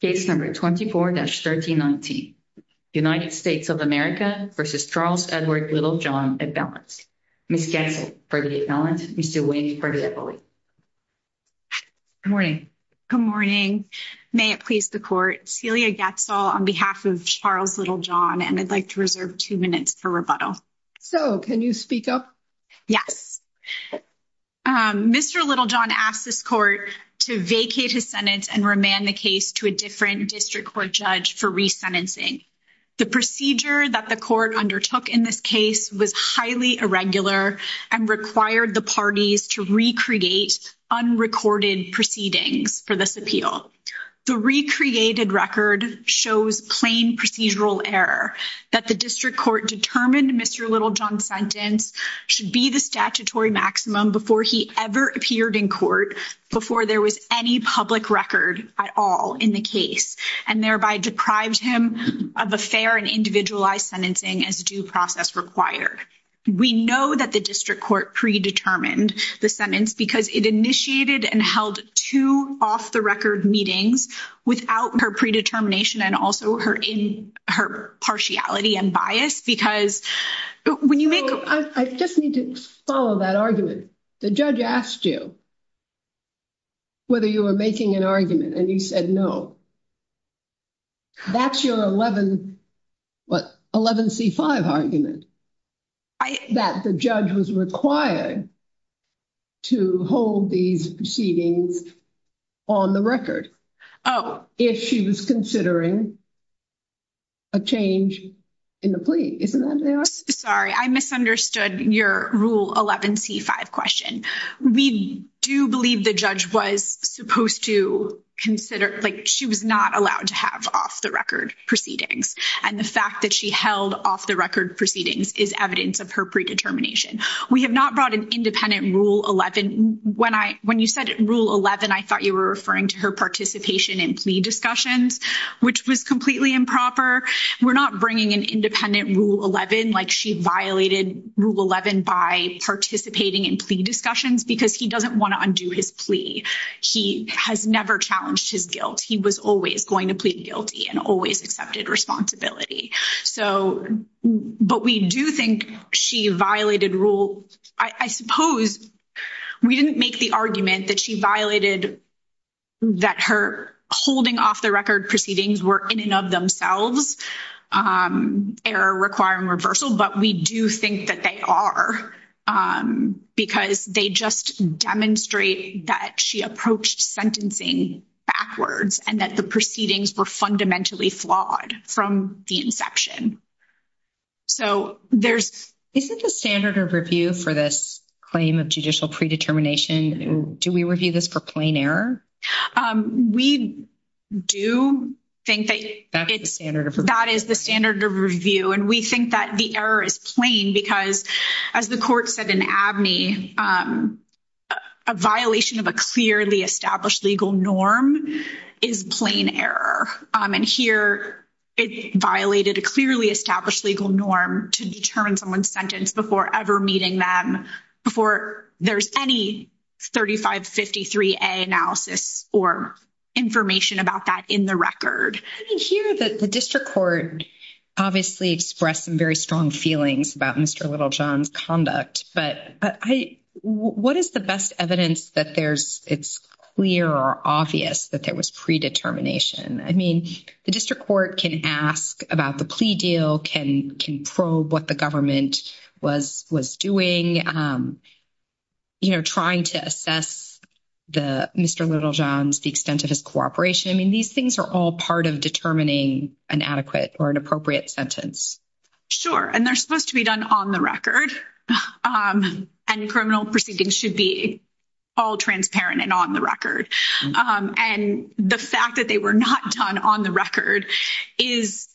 Case No. 24-1319. United States of America v. Charles Edward Littlejohn at Balance. Ms. Goetzel for the balance, Mr. Wayne for the equivalent. Good morning. Good morning. May it please the court, Celia Goetzel on behalf of Charles Littlejohn, and I'd like to reserve 2 minutes for rebuttal. So, can you speak up? Yes, Mr. Littlejohn asked this court to vacate his sentence and remand the case to a different district court judge for re-sentencing. The procedure that the court undertook in this case was highly irregular and required the parties to recreate unrecorded proceedings for this appeal. The recreated record shows plain procedural error that the district court determined Mr. Littlejohn's sentence should be the statutory maximum before he ever appeared in court before there was any public record at all in the case, and thereby deprived him of a fair and individualized sentencing as due process required. We know that the district court predetermined the sentence because it initiated and held two off-the-record meetings without her predetermination and also her partiality and bias because when you make... I just need to follow that argument. The judge asked you whether you were making an argument and you said no. That's your 11C5 argument. That the judge was required to hold these proceedings on the record. Oh. If she was considering a change in the plea. Isn't that what they asked? Sorry, I misunderstood your rule 11C5 question. We do believe the judge was supposed to consider... She was not allowed to have off-the-record proceedings, and the fact that she held off-the-record proceedings is evidence of her predetermination. We have not brought an independent rule 11. When you said rule 11, I thought you were referring to her participation in plea discussions, which was completely improper. We're not bringing an independent rule 11, like she violated rule 11 by participating in plea discussions because he doesn't want to undo his plea. He has never challenged his guilt. He was always going to plead guilty and always accepted responsibility. So, but we do think she violated rule... I suppose we didn't make the argument that she violated that her holding off-the-record proceedings were in and of themselves, error, requiring reversal, but we do think that they are, because they just demonstrate that she approached sentencing backwards and that the proceedings were fundamentally flawed from the inside. So, isn't the standard of review for this claim of judicial predetermination, do we review this for plain error? We do think that that is the standard of review, and we think that the error is plain because, as the court said in Abney, a violation of a clearly established legal norm is plain error. And here, it violated a clearly established legal norm to determine someone's sentence before ever meeting them, before there's any 3553A analysis or information about that in the record. I hear that the district court obviously expressed some very strong feelings about Mr. Littlejohn's conduct, but what is the best evidence that it's clear or obvious that there was predetermination? I mean, the district court can ask about the plea deal, can probe what the government was doing, trying to assess Mr. Littlejohn's, the extent of his cooperation. I mean, these things are all part of determining an adequate or an appropriate sentence. Sure, and they're supposed to be done on the record, and criminal proceedings should be all transparent and on the record. And the fact that they were not done on the record is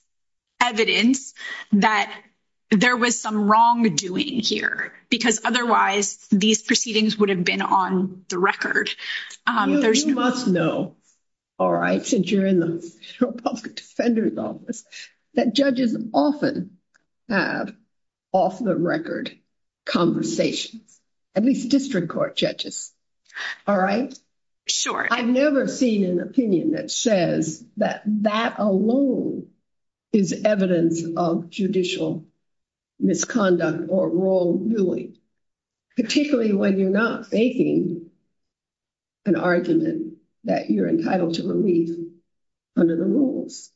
evidence that there was some wrongdoing here, because otherwise, these proceedings would have been on the record. You must know, all right, since you're in the public defender's office, that judges often have off-the-record conversations, at least district court judges. All right? I've never seen an opinion that says that that alone is evidence of judicial misconduct or wrongdoing, particularly when you're not faking an argument that you're entitled to relief under the rules.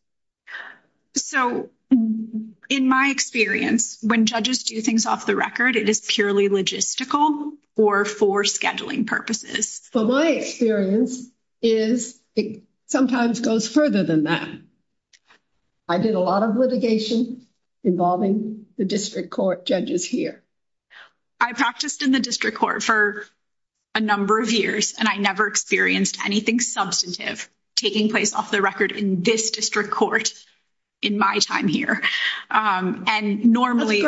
So, in my experience, when judges do things off the record, it is purely logistical or for scheduling purposes. Well, my experience is it sometimes goes further than that. I did a lot of litigation involving the district court judges here. I practiced in the district court for a number of years, and I never experienced anything substantive taking place off the record in this district court in my time here. And normally,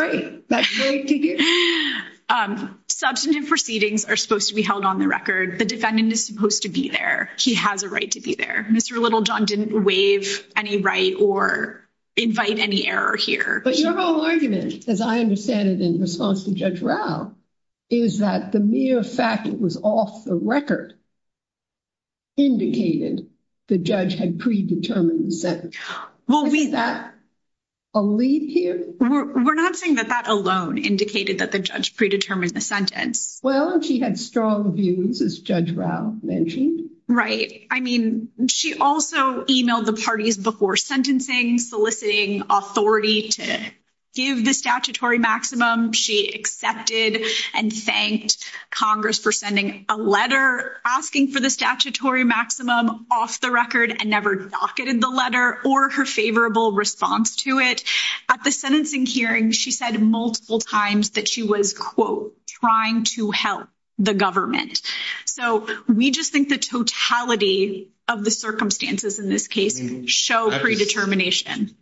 substantive proceedings are supposed to be held on the record. The defendant is supposed to be there. He has a right to be there. Mr. Littlejohn didn't waive any right or invite any error here. But your whole argument, as I understand it in response to Judge Rao, is that the mere fact it was off the record indicated the judge had predetermined the sentence. Is that a lead here? We're not saying that that alone indicated that the judge predetermined the sentence. Well, she had strong views, as Judge Rao mentioned. Right. I mean, she also emailed the parties before sentencing, soliciting authority to give the statutory maximum. She accepted and thanked Congress for sending a letter asking for the statutory maximum off the record and never docketed the letter or her favorable response to it. At the sentencing hearing, she said multiple times that she was, quote, trying to help the government. So we just think the totality of the circumstances in this case show predetermination.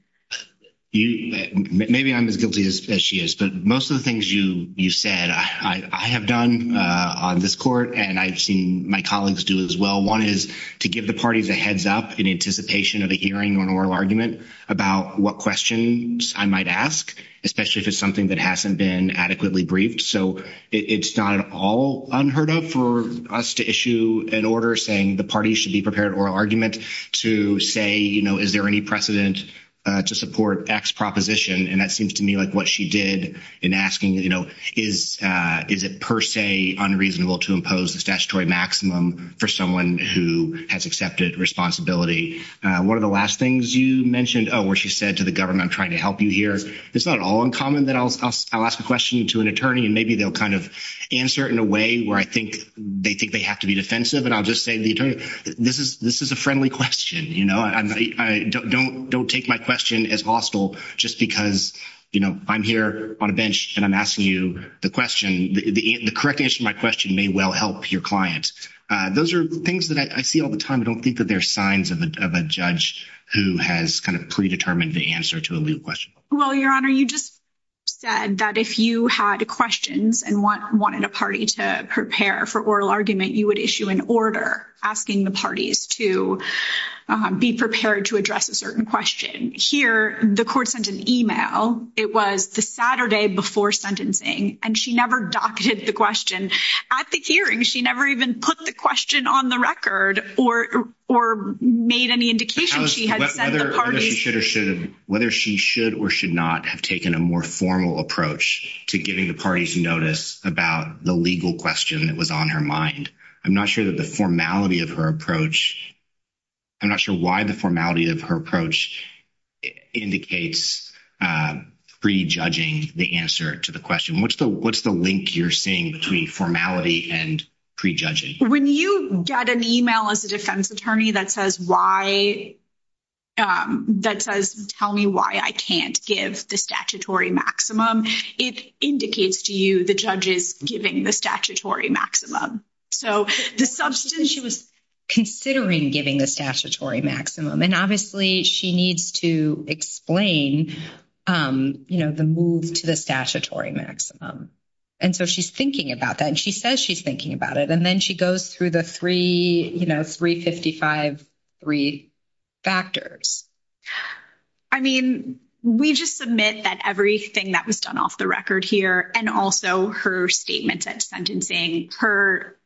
Maybe I'm as guilty as she is, but most of the things you said I have done on this court and I've seen my colleagues do as well. One is to give the parties a heads up in anticipation of a hearing or an oral argument about what questions I might ask, especially if it's something that hasn't been adequately briefed. So it's not at all unheard of for us to issue an order saying the party should be prepared or argument to say, you know, is there any precedent to support X proposition? And that seems to me like what she did in asking, you know, is is it per se unreasonable to impose the statutory maximum for someone who has accepted responsibility? One of the last things you mentioned where she said to the government trying to help you here, it's not at all uncommon that I'll ask a question to an attorney and maybe they'll kind of answer it in a way where I think they think they have to be defensive. And I'll just say, this is this is a friendly question. I don't don't don't take my question as hostile just because I'm here on a bench and I'm asking you the question. The correct answer to my question may well help your client. Those are things that I see all the time. I don't think that there are signs of a judge who has kind of predetermined the answer to a legal question. Well, your honor, you just said that if you had questions and wanted a party to prepare for oral argument, you would issue an order asking the parties to be prepared to address a certain question here. The court sent an email. It was the Saturday before sentencing, and she never docketed the question at the hearing. She never even put the question on the record or or made any indication. She had said the parties should or should whether she should or should not have taken a more formal approach to giving the parties notice about the legal question that was on her mind. I'm not sure that the formality of her approach. I'm not sure why the formality of her approach indicates prejudging the answer to the question. What's the what's the link you're seeing between formality and prejudging when you get an email as a defense attorney that says why. That says, tell me why I can't give the statutory maximum. It indicates to you the judges giving the statutory maximum. So the substance she was. Considering giving the statutory maximum and obviously she needs to explain the move to the statutory maximum. And so she's thinking about that, and she says, she's thinking about it and then she goes through the 3, you know, 3, 55. 3 factors, I mean, we just submit that everything that was done off the record here and also her statements at sentencing her.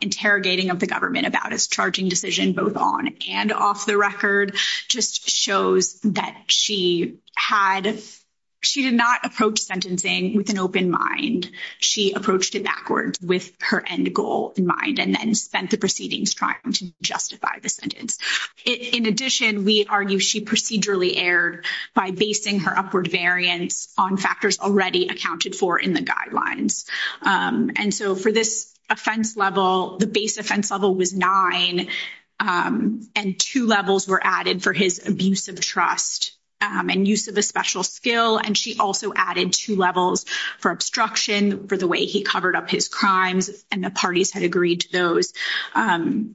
Interrogating of the government about his charging decision, both on and off the record just shows that she had. She did not approach sentencing with an open mind. She approached it backwards with her end goal in mind, and then spent the proceedings trying to justify the sentence. In addition, we argue she procedurally aired by basing her upward variance on factors already accounted for in the guidelines. And so, for this offense level, the base offense level was 9 and 2 levels were added for his abuse of trust and use of a special skill. And she also added 2 levels for obstruction for the way he covered up his crimes and the parties had agreed to those and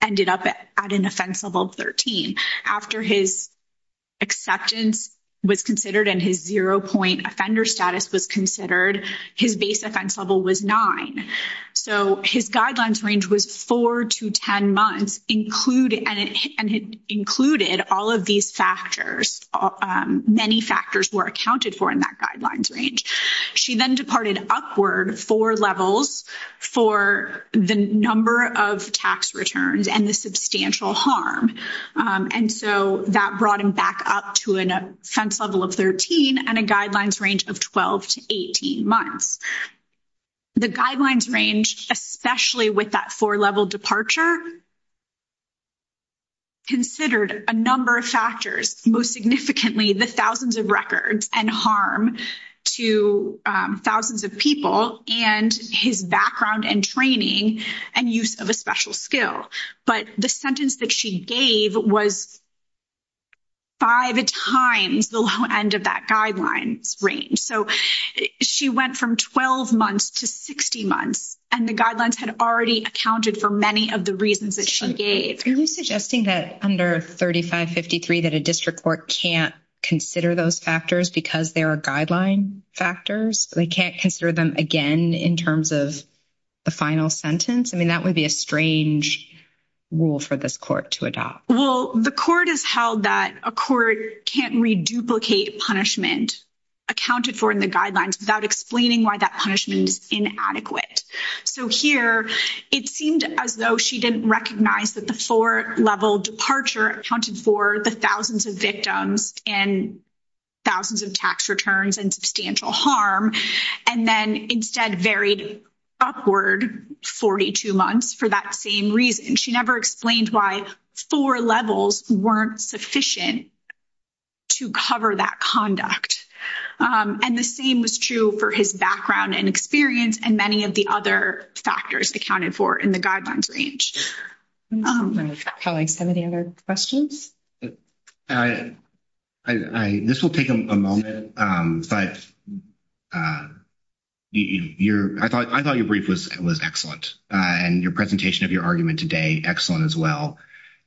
ended up at an offense level of 13 after his acceptance was considered and his 0 point offender status was considered. His base offense level was 9, so his guidelines range was 4 to 10 months included, and it included all of these factors. Many factors were accounted for in that guidelines range. She then departed upward 4 levels for the number of tax returns and the substantial harm. And so that brought him back up to an offense level of 13 and a guidelines range of 12 to 18 months. The guidelines range, especially with that 4 level departure. Considered a number of factors, most significantly the thousands of records and harm to thousands of people and his background and training and use of a special skill, but the sentence that she gave was. 5 times the low end of that guidelines range, so she went from 12 months to 60 months and the guidelines had already accounted for many of the reasons that she gave suggesting that under 3553 that a district court can't consider those factors because there are guideline factors. They can't consider them again in terms of the final sentence. I mean, that would be a strange rule for this court to adopt. Well, the court has held that a court can't re, duplicate punishment. Accounted for in the guidelines without explaining why that punishment is inadequate. So here it seemed as though she didn't recognize that the 4 level departure accounted for the thousands of victims and. Thousands of tax returns and substantial harm and then instead varied. Upward 42 months for that same reason, she never explained why 4 levels weren't sufficient. To cover that conduct, and the same was true for his background and experience and many of the other factors accounted for in the guidelines range. How like 70 other questions. I, this will take a moment, but. Uh, you're I thought I thought your brief was was excellent and your presentation of your argument today. Excellent as well.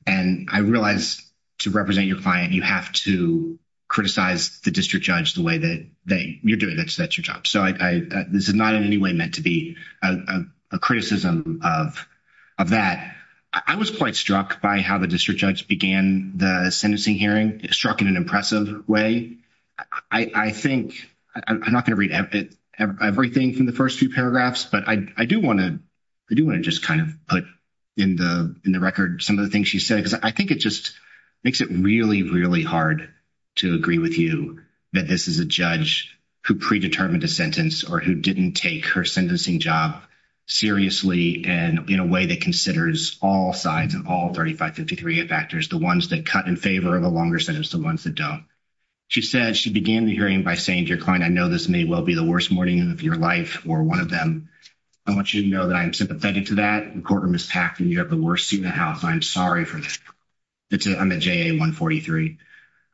And I realize to represent your client, you have to criticize the district judge the way that they you're doing. That's that's your job. So I, this is not in any way meant to be a criticism of. Of that, I was quite struck by how the district judge began the sentencing hearing struck in an impressive way. I think I'm not going to read everything from the 1st, 2 paragraphs, but I do want to. I do want to just kind of put in the, in the record some of the things she said, because I think it just makes it really, really hard. To agree with you that this is a judge who predetermined a sentence or who didn't take her sentencing job. Seriously, and in a way that considers all sides and all 3553 factors, the ones that cut in favor of a longer sentence, the ones that don't. She said she began the hearing by saying to your client, I know this may well be the worst morning of your life or 1 of them. I want, you know, that I'm sympathetic to that quarter. Miss packing. You have the worst seat in the house. I'm sorry for that. It's a, I'm a 143.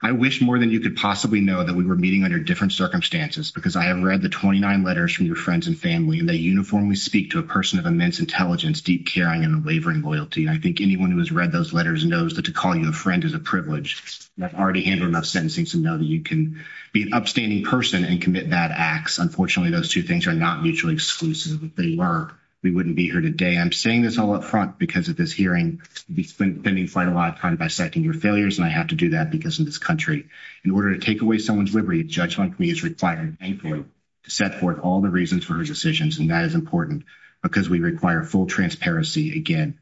I wish more than you could possibly know that we were meeting under different circumstances, because I have read the 29 letters from your friends and family and they uniformly speak to a person of immense intelligence, deep, caring and wavering loyalty. I think anyone who has read those letters knows that to call you a friend is a privilege that already handled enough sentencing to know that you can be an upstanding person and commit bad acts. Unfortunately, those 2 things are not mutually exclusive. They were, we wouldn't be here today. I'm saying this all up front because of this hearing spending quite a lot of time by setting your failures and I have to do that because in this country, in order to take away someone's liberty, a judge like me is required to set forth all the reasons for her decisions and that is important because we require full transparency again.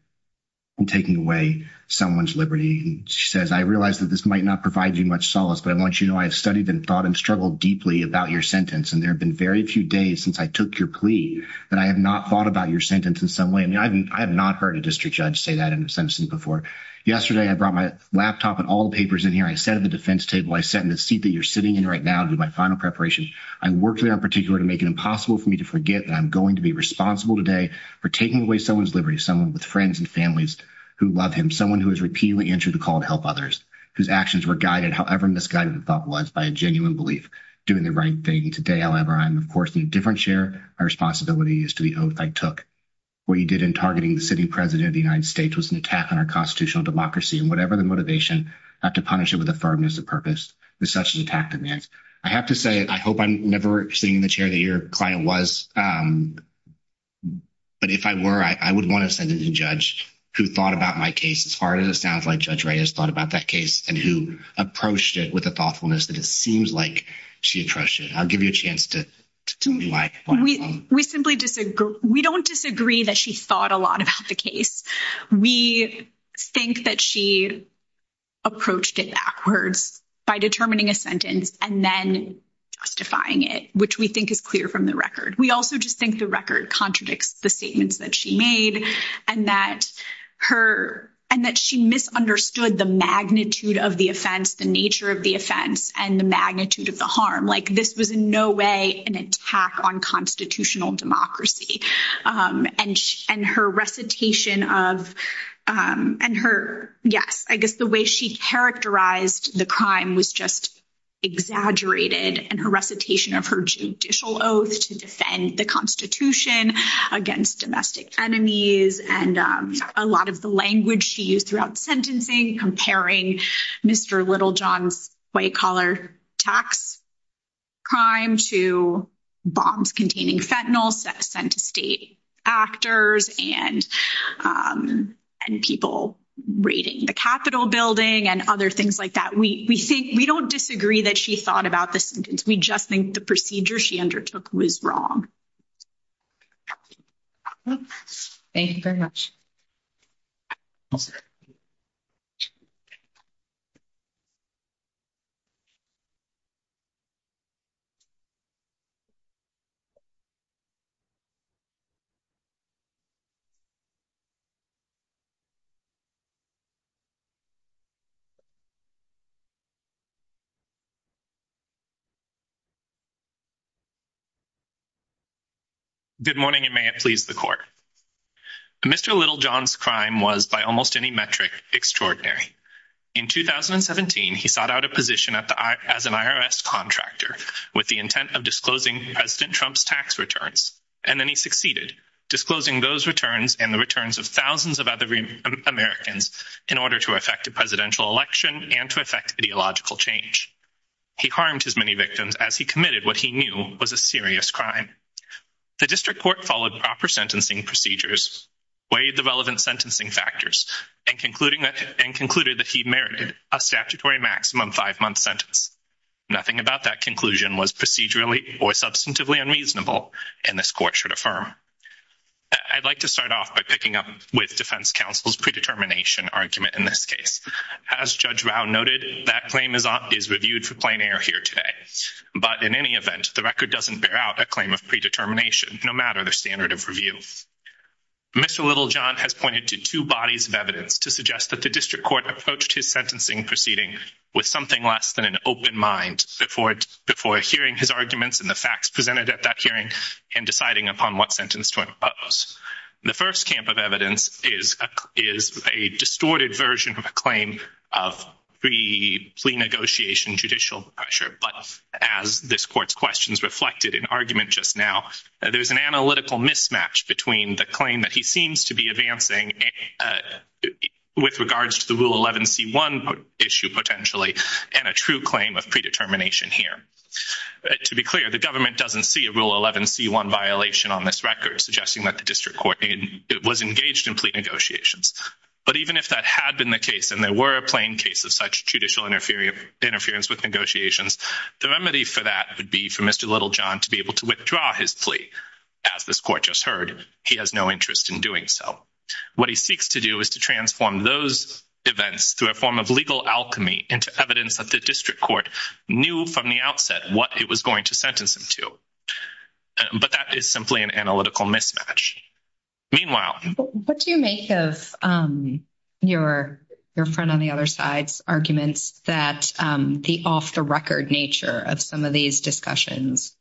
And taking away someone's liberty, she says, I realized that this might not provide you much solace, but I want, you know, I've studied and thought and struggled deeply about your sentence. And there have been very few days since I took your plea that I have not thought about your sentence in some way. I mean, I haven't I have not heard a district judge say that in a sentence before yesterday. I brought my laptop and all the papers in here. I sat at the defense table. I sat in the seat that you're sitting in right now to do my final preparation. I worked there in particular to make it impossible for me to forget that I'm going to be responsible today for taking away someone's liberty. Someone with friends and families who love him. Someone who has repeatedly answered the call to help others whose actions were guided. However, misguided the thought was by a genuine belief doing the right thing today. However, I'm, of course, in a different chair. My responsibility is to the oath I took. What you did in targeting the sitting president of the United States was an attack on our constitutional democracy and whatever the motivation not to punish it with a firmness of purpose. There's such an attack demands. I have to say, I hope I'm never sitting in the chair that your client was. But if I were, I would want to send it to judge who thought about my case as far as it sounds like judge Ray has thought about that case and who approached it with a thoughtfulness that it seems like she had trusted. I'll give you a chance to do my. We simply disagree. We don't disagree that. She thought a lot about the case. We think that she. Approached it backwards by determining a sentence and then justifying it, which we think is clear from the record. We also just think the record contradicts the statements that she made and that her and that she misunderstood the magnitude of the offense, the nature of the offense and the magnitude of the harm. Like, this was in no way an attack on constitutional democracy and her recitation of and her. Yes, I guess the way she characterized the crime was just. Exaggerated and her recitation of her judicial oath to defend the constitution against domestic enemies and a lot of the language she used throughout sentencing comparing Mr. little John's white collar tax. Crime to bombs containing fentanyl sent to state actors and and people rating the Capitol building and other things like that. We, we think we don't disagree that she thought about the sentence. We just think the procedure she undertook was wrong. Thank you very much. Thank you. Good morning and may it please the court. Mr. Littlejohn's crime was by almost any metric extraordinary. In 2017, he sought out a position as an IRS contractor with the intent of disclosing President Trump's tax returns, and then he succeeded, disclosing those returns and the returns of thousands of other Americans in order to affect a presidential election and to affect ideological change. He harmed his many victims as he committed what he knew was a serious crime. The district court followed proper sentencing procedures, weighed the relevant sentencing factors, and concluded that he merited a statutory maximum five-month sentence. Nothing about that conclusion was procedurally or substantively unreasonable, and this court should affirm. I'd like to start off by picking up with defense counsel's predetermination argument in this case. As Judge Rao noted, that claim is reviewed for an error here today, but in any event, the record doesn't bear out a claim of predetermination, no matter the standard of review. Mr. Littlejohn has pointed to two bodies of evidence to suggest that the district court approached his sentencing proceeding with something less than an open mind before hearing his arguments and the facts presented at that hearing and deciding upon what sentence to impose. The first camp of evidence is a distorted version of a claim of pre-plea negotiation judicial pressure, but as this court's questions reflected in argument just now, there's an analytical mismatch between the claim that he seems to be advancing with regards to the Rule 11c1 issue, potentially, and a true claim of predetermination here. To be clear, the government doesn't see a Rule 11c1 violation on this record, suggesting that the district court was engaged in plea negotiations. But even if that had been the case, and there were a plain case of such judicial interference with negotiations, the remedy for that would be for Mr. Littlejohn to be able to withdraw his plea. As this court just heard, he has no interest in doing so. What he seeks to do is to transform those events through a form of legal alchemy into evidence that the district court knew from the outset what it was going to sentence him to. But that is simply an analytical mismatch. Meanwhile, what do you make of your friend on the other side's arguments that the off-the-record nature of some of these discussions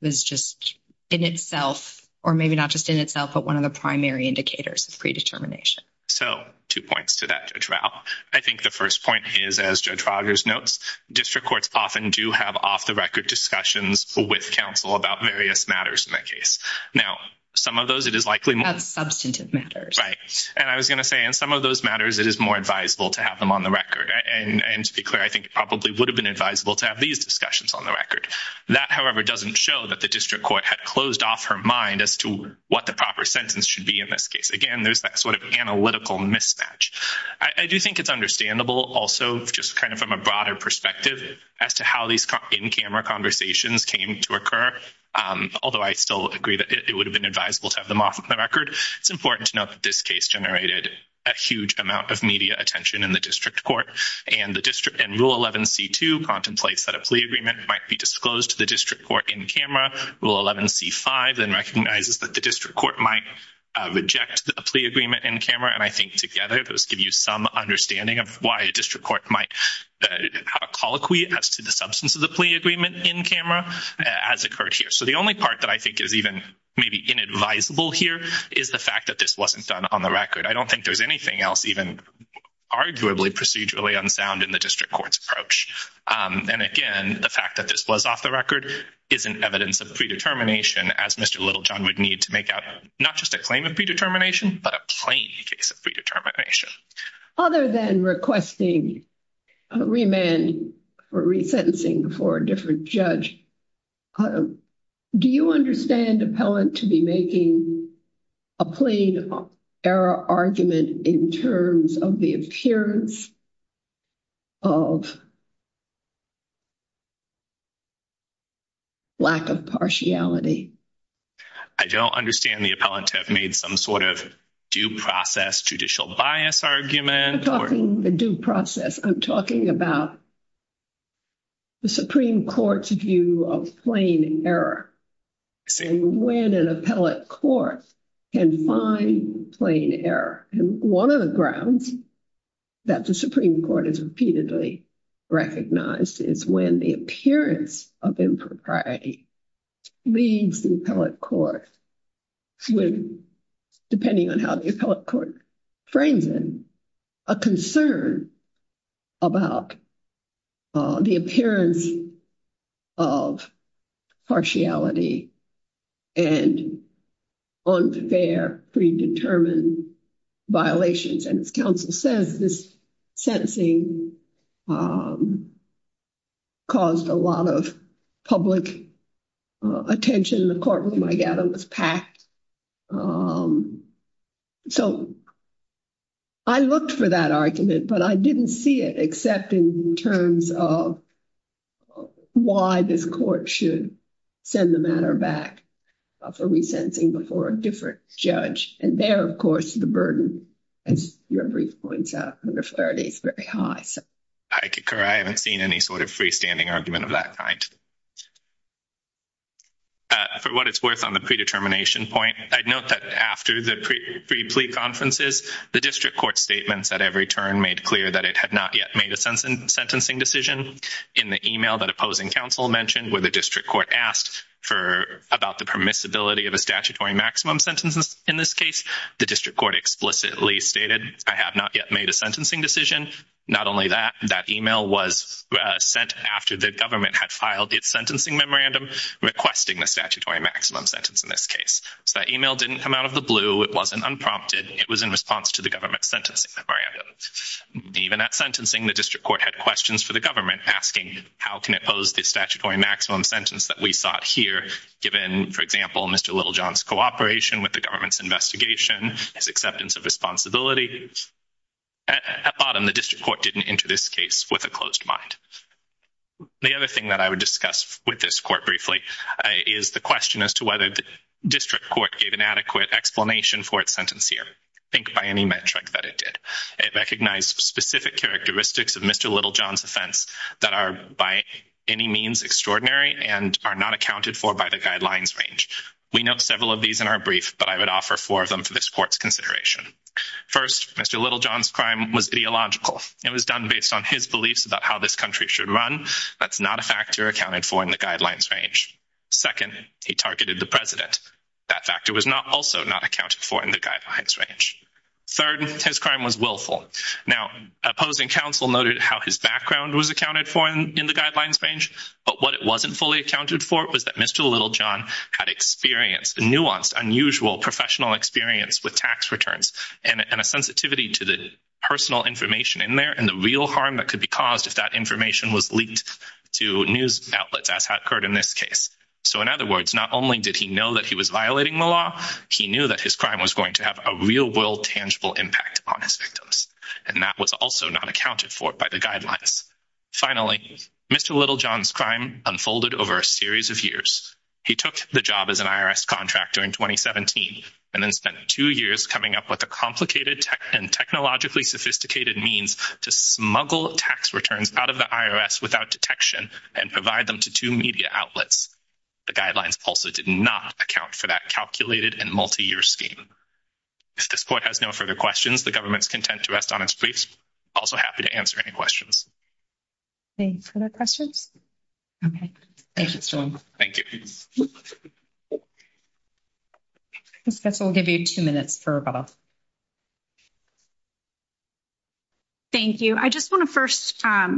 was just in itself, or maybe not just in itself, but one of the primary indicators of predetermination? So two points to that, Judge Rao. I think the first point is, as Judge Rogers notes, district courts often do have off-the-record discussions with counsel about various matters in the case. Now, some of those, it is likely— That's substantive matters. Right. And I was going to say, in some of those matters, it is more advisable to have them on the record. And to be clear, I think it probably would have been advisable to have these discussions on the record. That, however, doesn't show that the district court had closed off her mind as to what the proper sentence should be in this case. Again, there's that sort of analytical mismatch. I do think it's understandable also, just kind of from a broader perspective, as to how these in-camera conversations came to occur, although I still agree that it would have been advisable to have them off the record. It's important to note that this case generated a huge amount of media attention in the district court. And Rule 11c2 contemplates that a plea agreement might be disclosed to the district court in-camera. Rule 11c5 then recognizes that the district court might reject a plea agreement in-camera. And I think, together, those give you some understanding of might have a colloquy as to the substance of the plea agreement in-camera as occurred here. So the only part that I think is even maybe inadvisable here is the fact that this wasn't done on the record. I don't think there's anything else even arguably procedurally unsound in the district court's approach. And again, the fact that this was off the record isn't evidence of predetermination, as Mr. Littlejohn would need to make out not just a claim of predetermination, but a plain case of predetermination. Other than requesting remand for resentencing for a different judge, do you understand appellant to be making a plain error argument in terms of the appearance of lack of partiality? I don't understand the appellant to have made some sort of due process judicial bias argument. I'm not talking the due process. I'm talking about the Supreme Court's view of plain error and when an appellate court can find plain error. And one of the grounds that the Supreme Court has repeatedly recognized is when the appearance of impropriety leaves the appellate court with, depending on how the appellate court frames it, a concern about the appearance of partiality and unfair predetermined violations. And as counsel says, this sentencing caused a lot of public attention. The courtroom, I gather, was packed. So I looked for that argument, but I didn't see it except in terms of why this court should send the matter back for resentencing before a different judge. And there, of course, the burden, as your brief points out, under Flaherty is very high. I concur. I haven't seen any sort of freestanding argument of that kind. For what it's worth on the predetermination point, I'd note that after the pre-plea conferences, the district court statements at every turn made clear that it had not yet made a sentencing decision. In the email that opposing counsel mentioned where the district court asked about the permissibility of a statutory maximum sentence in this case, the district court explicitly stated, I have not yet made a sentencing decision. Not only that, that email was sent after the government had filed its sentencing memorandum requesting the statutory maximum sentence in this case. So that email didn't come out of the blue. It wasn't unprompted. It was in response to the government's sentencing memorandum. Even at sentencing, the district court had questions for the government asking how can it pose the statutory maximum sentence that we sought here, given, for example, Mr. Littlejohn's cooperation with the government's investigation, his acceptance of responsibility. At bottom, the district court didn't enter this case with a closed mind. The other thing that I would discuss with this court briefly is the question as to whether the district court gave an adequate explanation for its sentence here. Think by it did. It recognized specific characteristics of Mr. Littlejohn's offense that are by any means extraordinary and are not accounted for by the guidelines range. We note several of these in our brief, but I would offer four of them for this court's consideration. First, Mr. Littlejohn's crime was ideological. It was done based on his beliefs about how this country should run. That's not a factor accounted for in the guidelines range. Second, he targeted the president. That third, his crime was willful. Now, opposing counsel noted how his background was accounted for in the guidelines range, but what it wasn't fully accounted for was that Mr. Littlejohn had nuanced, unusual professional experience with tax returns and a sensitivity to the personal information in there and the real harm that could be caused if that information was leaked to news outlets, as had occurred in this case. In other words, not only did he know that he victims, and that was also not accounted for by the guidelines. Finally, Mr. Littlejohn's crime unfolded over a series of years. He took the job as an IRS contractor in 2017 and then spent two years coming up with a complicated and technologically sophisticated means to smuggle tax returns out of the IRS without detection and provide them to two media outlets. The guidelines also did not account for that calculated and multi-year scheme. If this court has no further questions, the government's content to rest on its feet. Also happy to answer any questions. Any further questions? Okay. Thank you so much. Thank you. Ms. Goetz, I'll give you two minutes for rebuttal. Thank you. I just want to first, I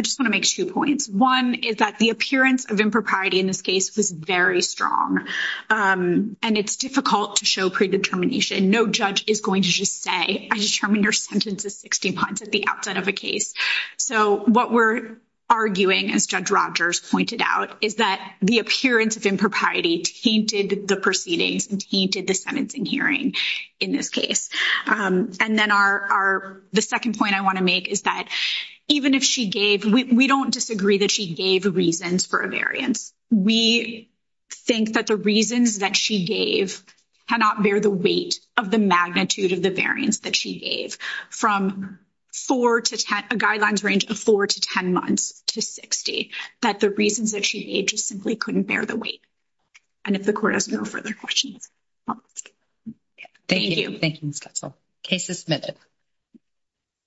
just want to make two points. One is that the appearance of impropriety in this case was very strong, and it's difficult to show predetermination. No judge is going to just say, I determined your sentence is 60 months at the outset of a case. So, what we're arguing, as Judge Rogers pointed out, is that the appearance of impropriety tainted the proceedings and tainted the sentencing hearing in this case. And then our, the second point I want to make is that even if she gave, we don't disagree that she gave reasons for a variance. We think that the reasons that she gave cannot bear the weight of the magnitude of the variance that she gave. From 4 to 10, a guidelines range of 4 to 10 months to 60, that the reasons that she gave just simply couldn't bear the weight. And if the court has no further questions. Thank you. Thank you, Ms. Goetzel. Case is submitted.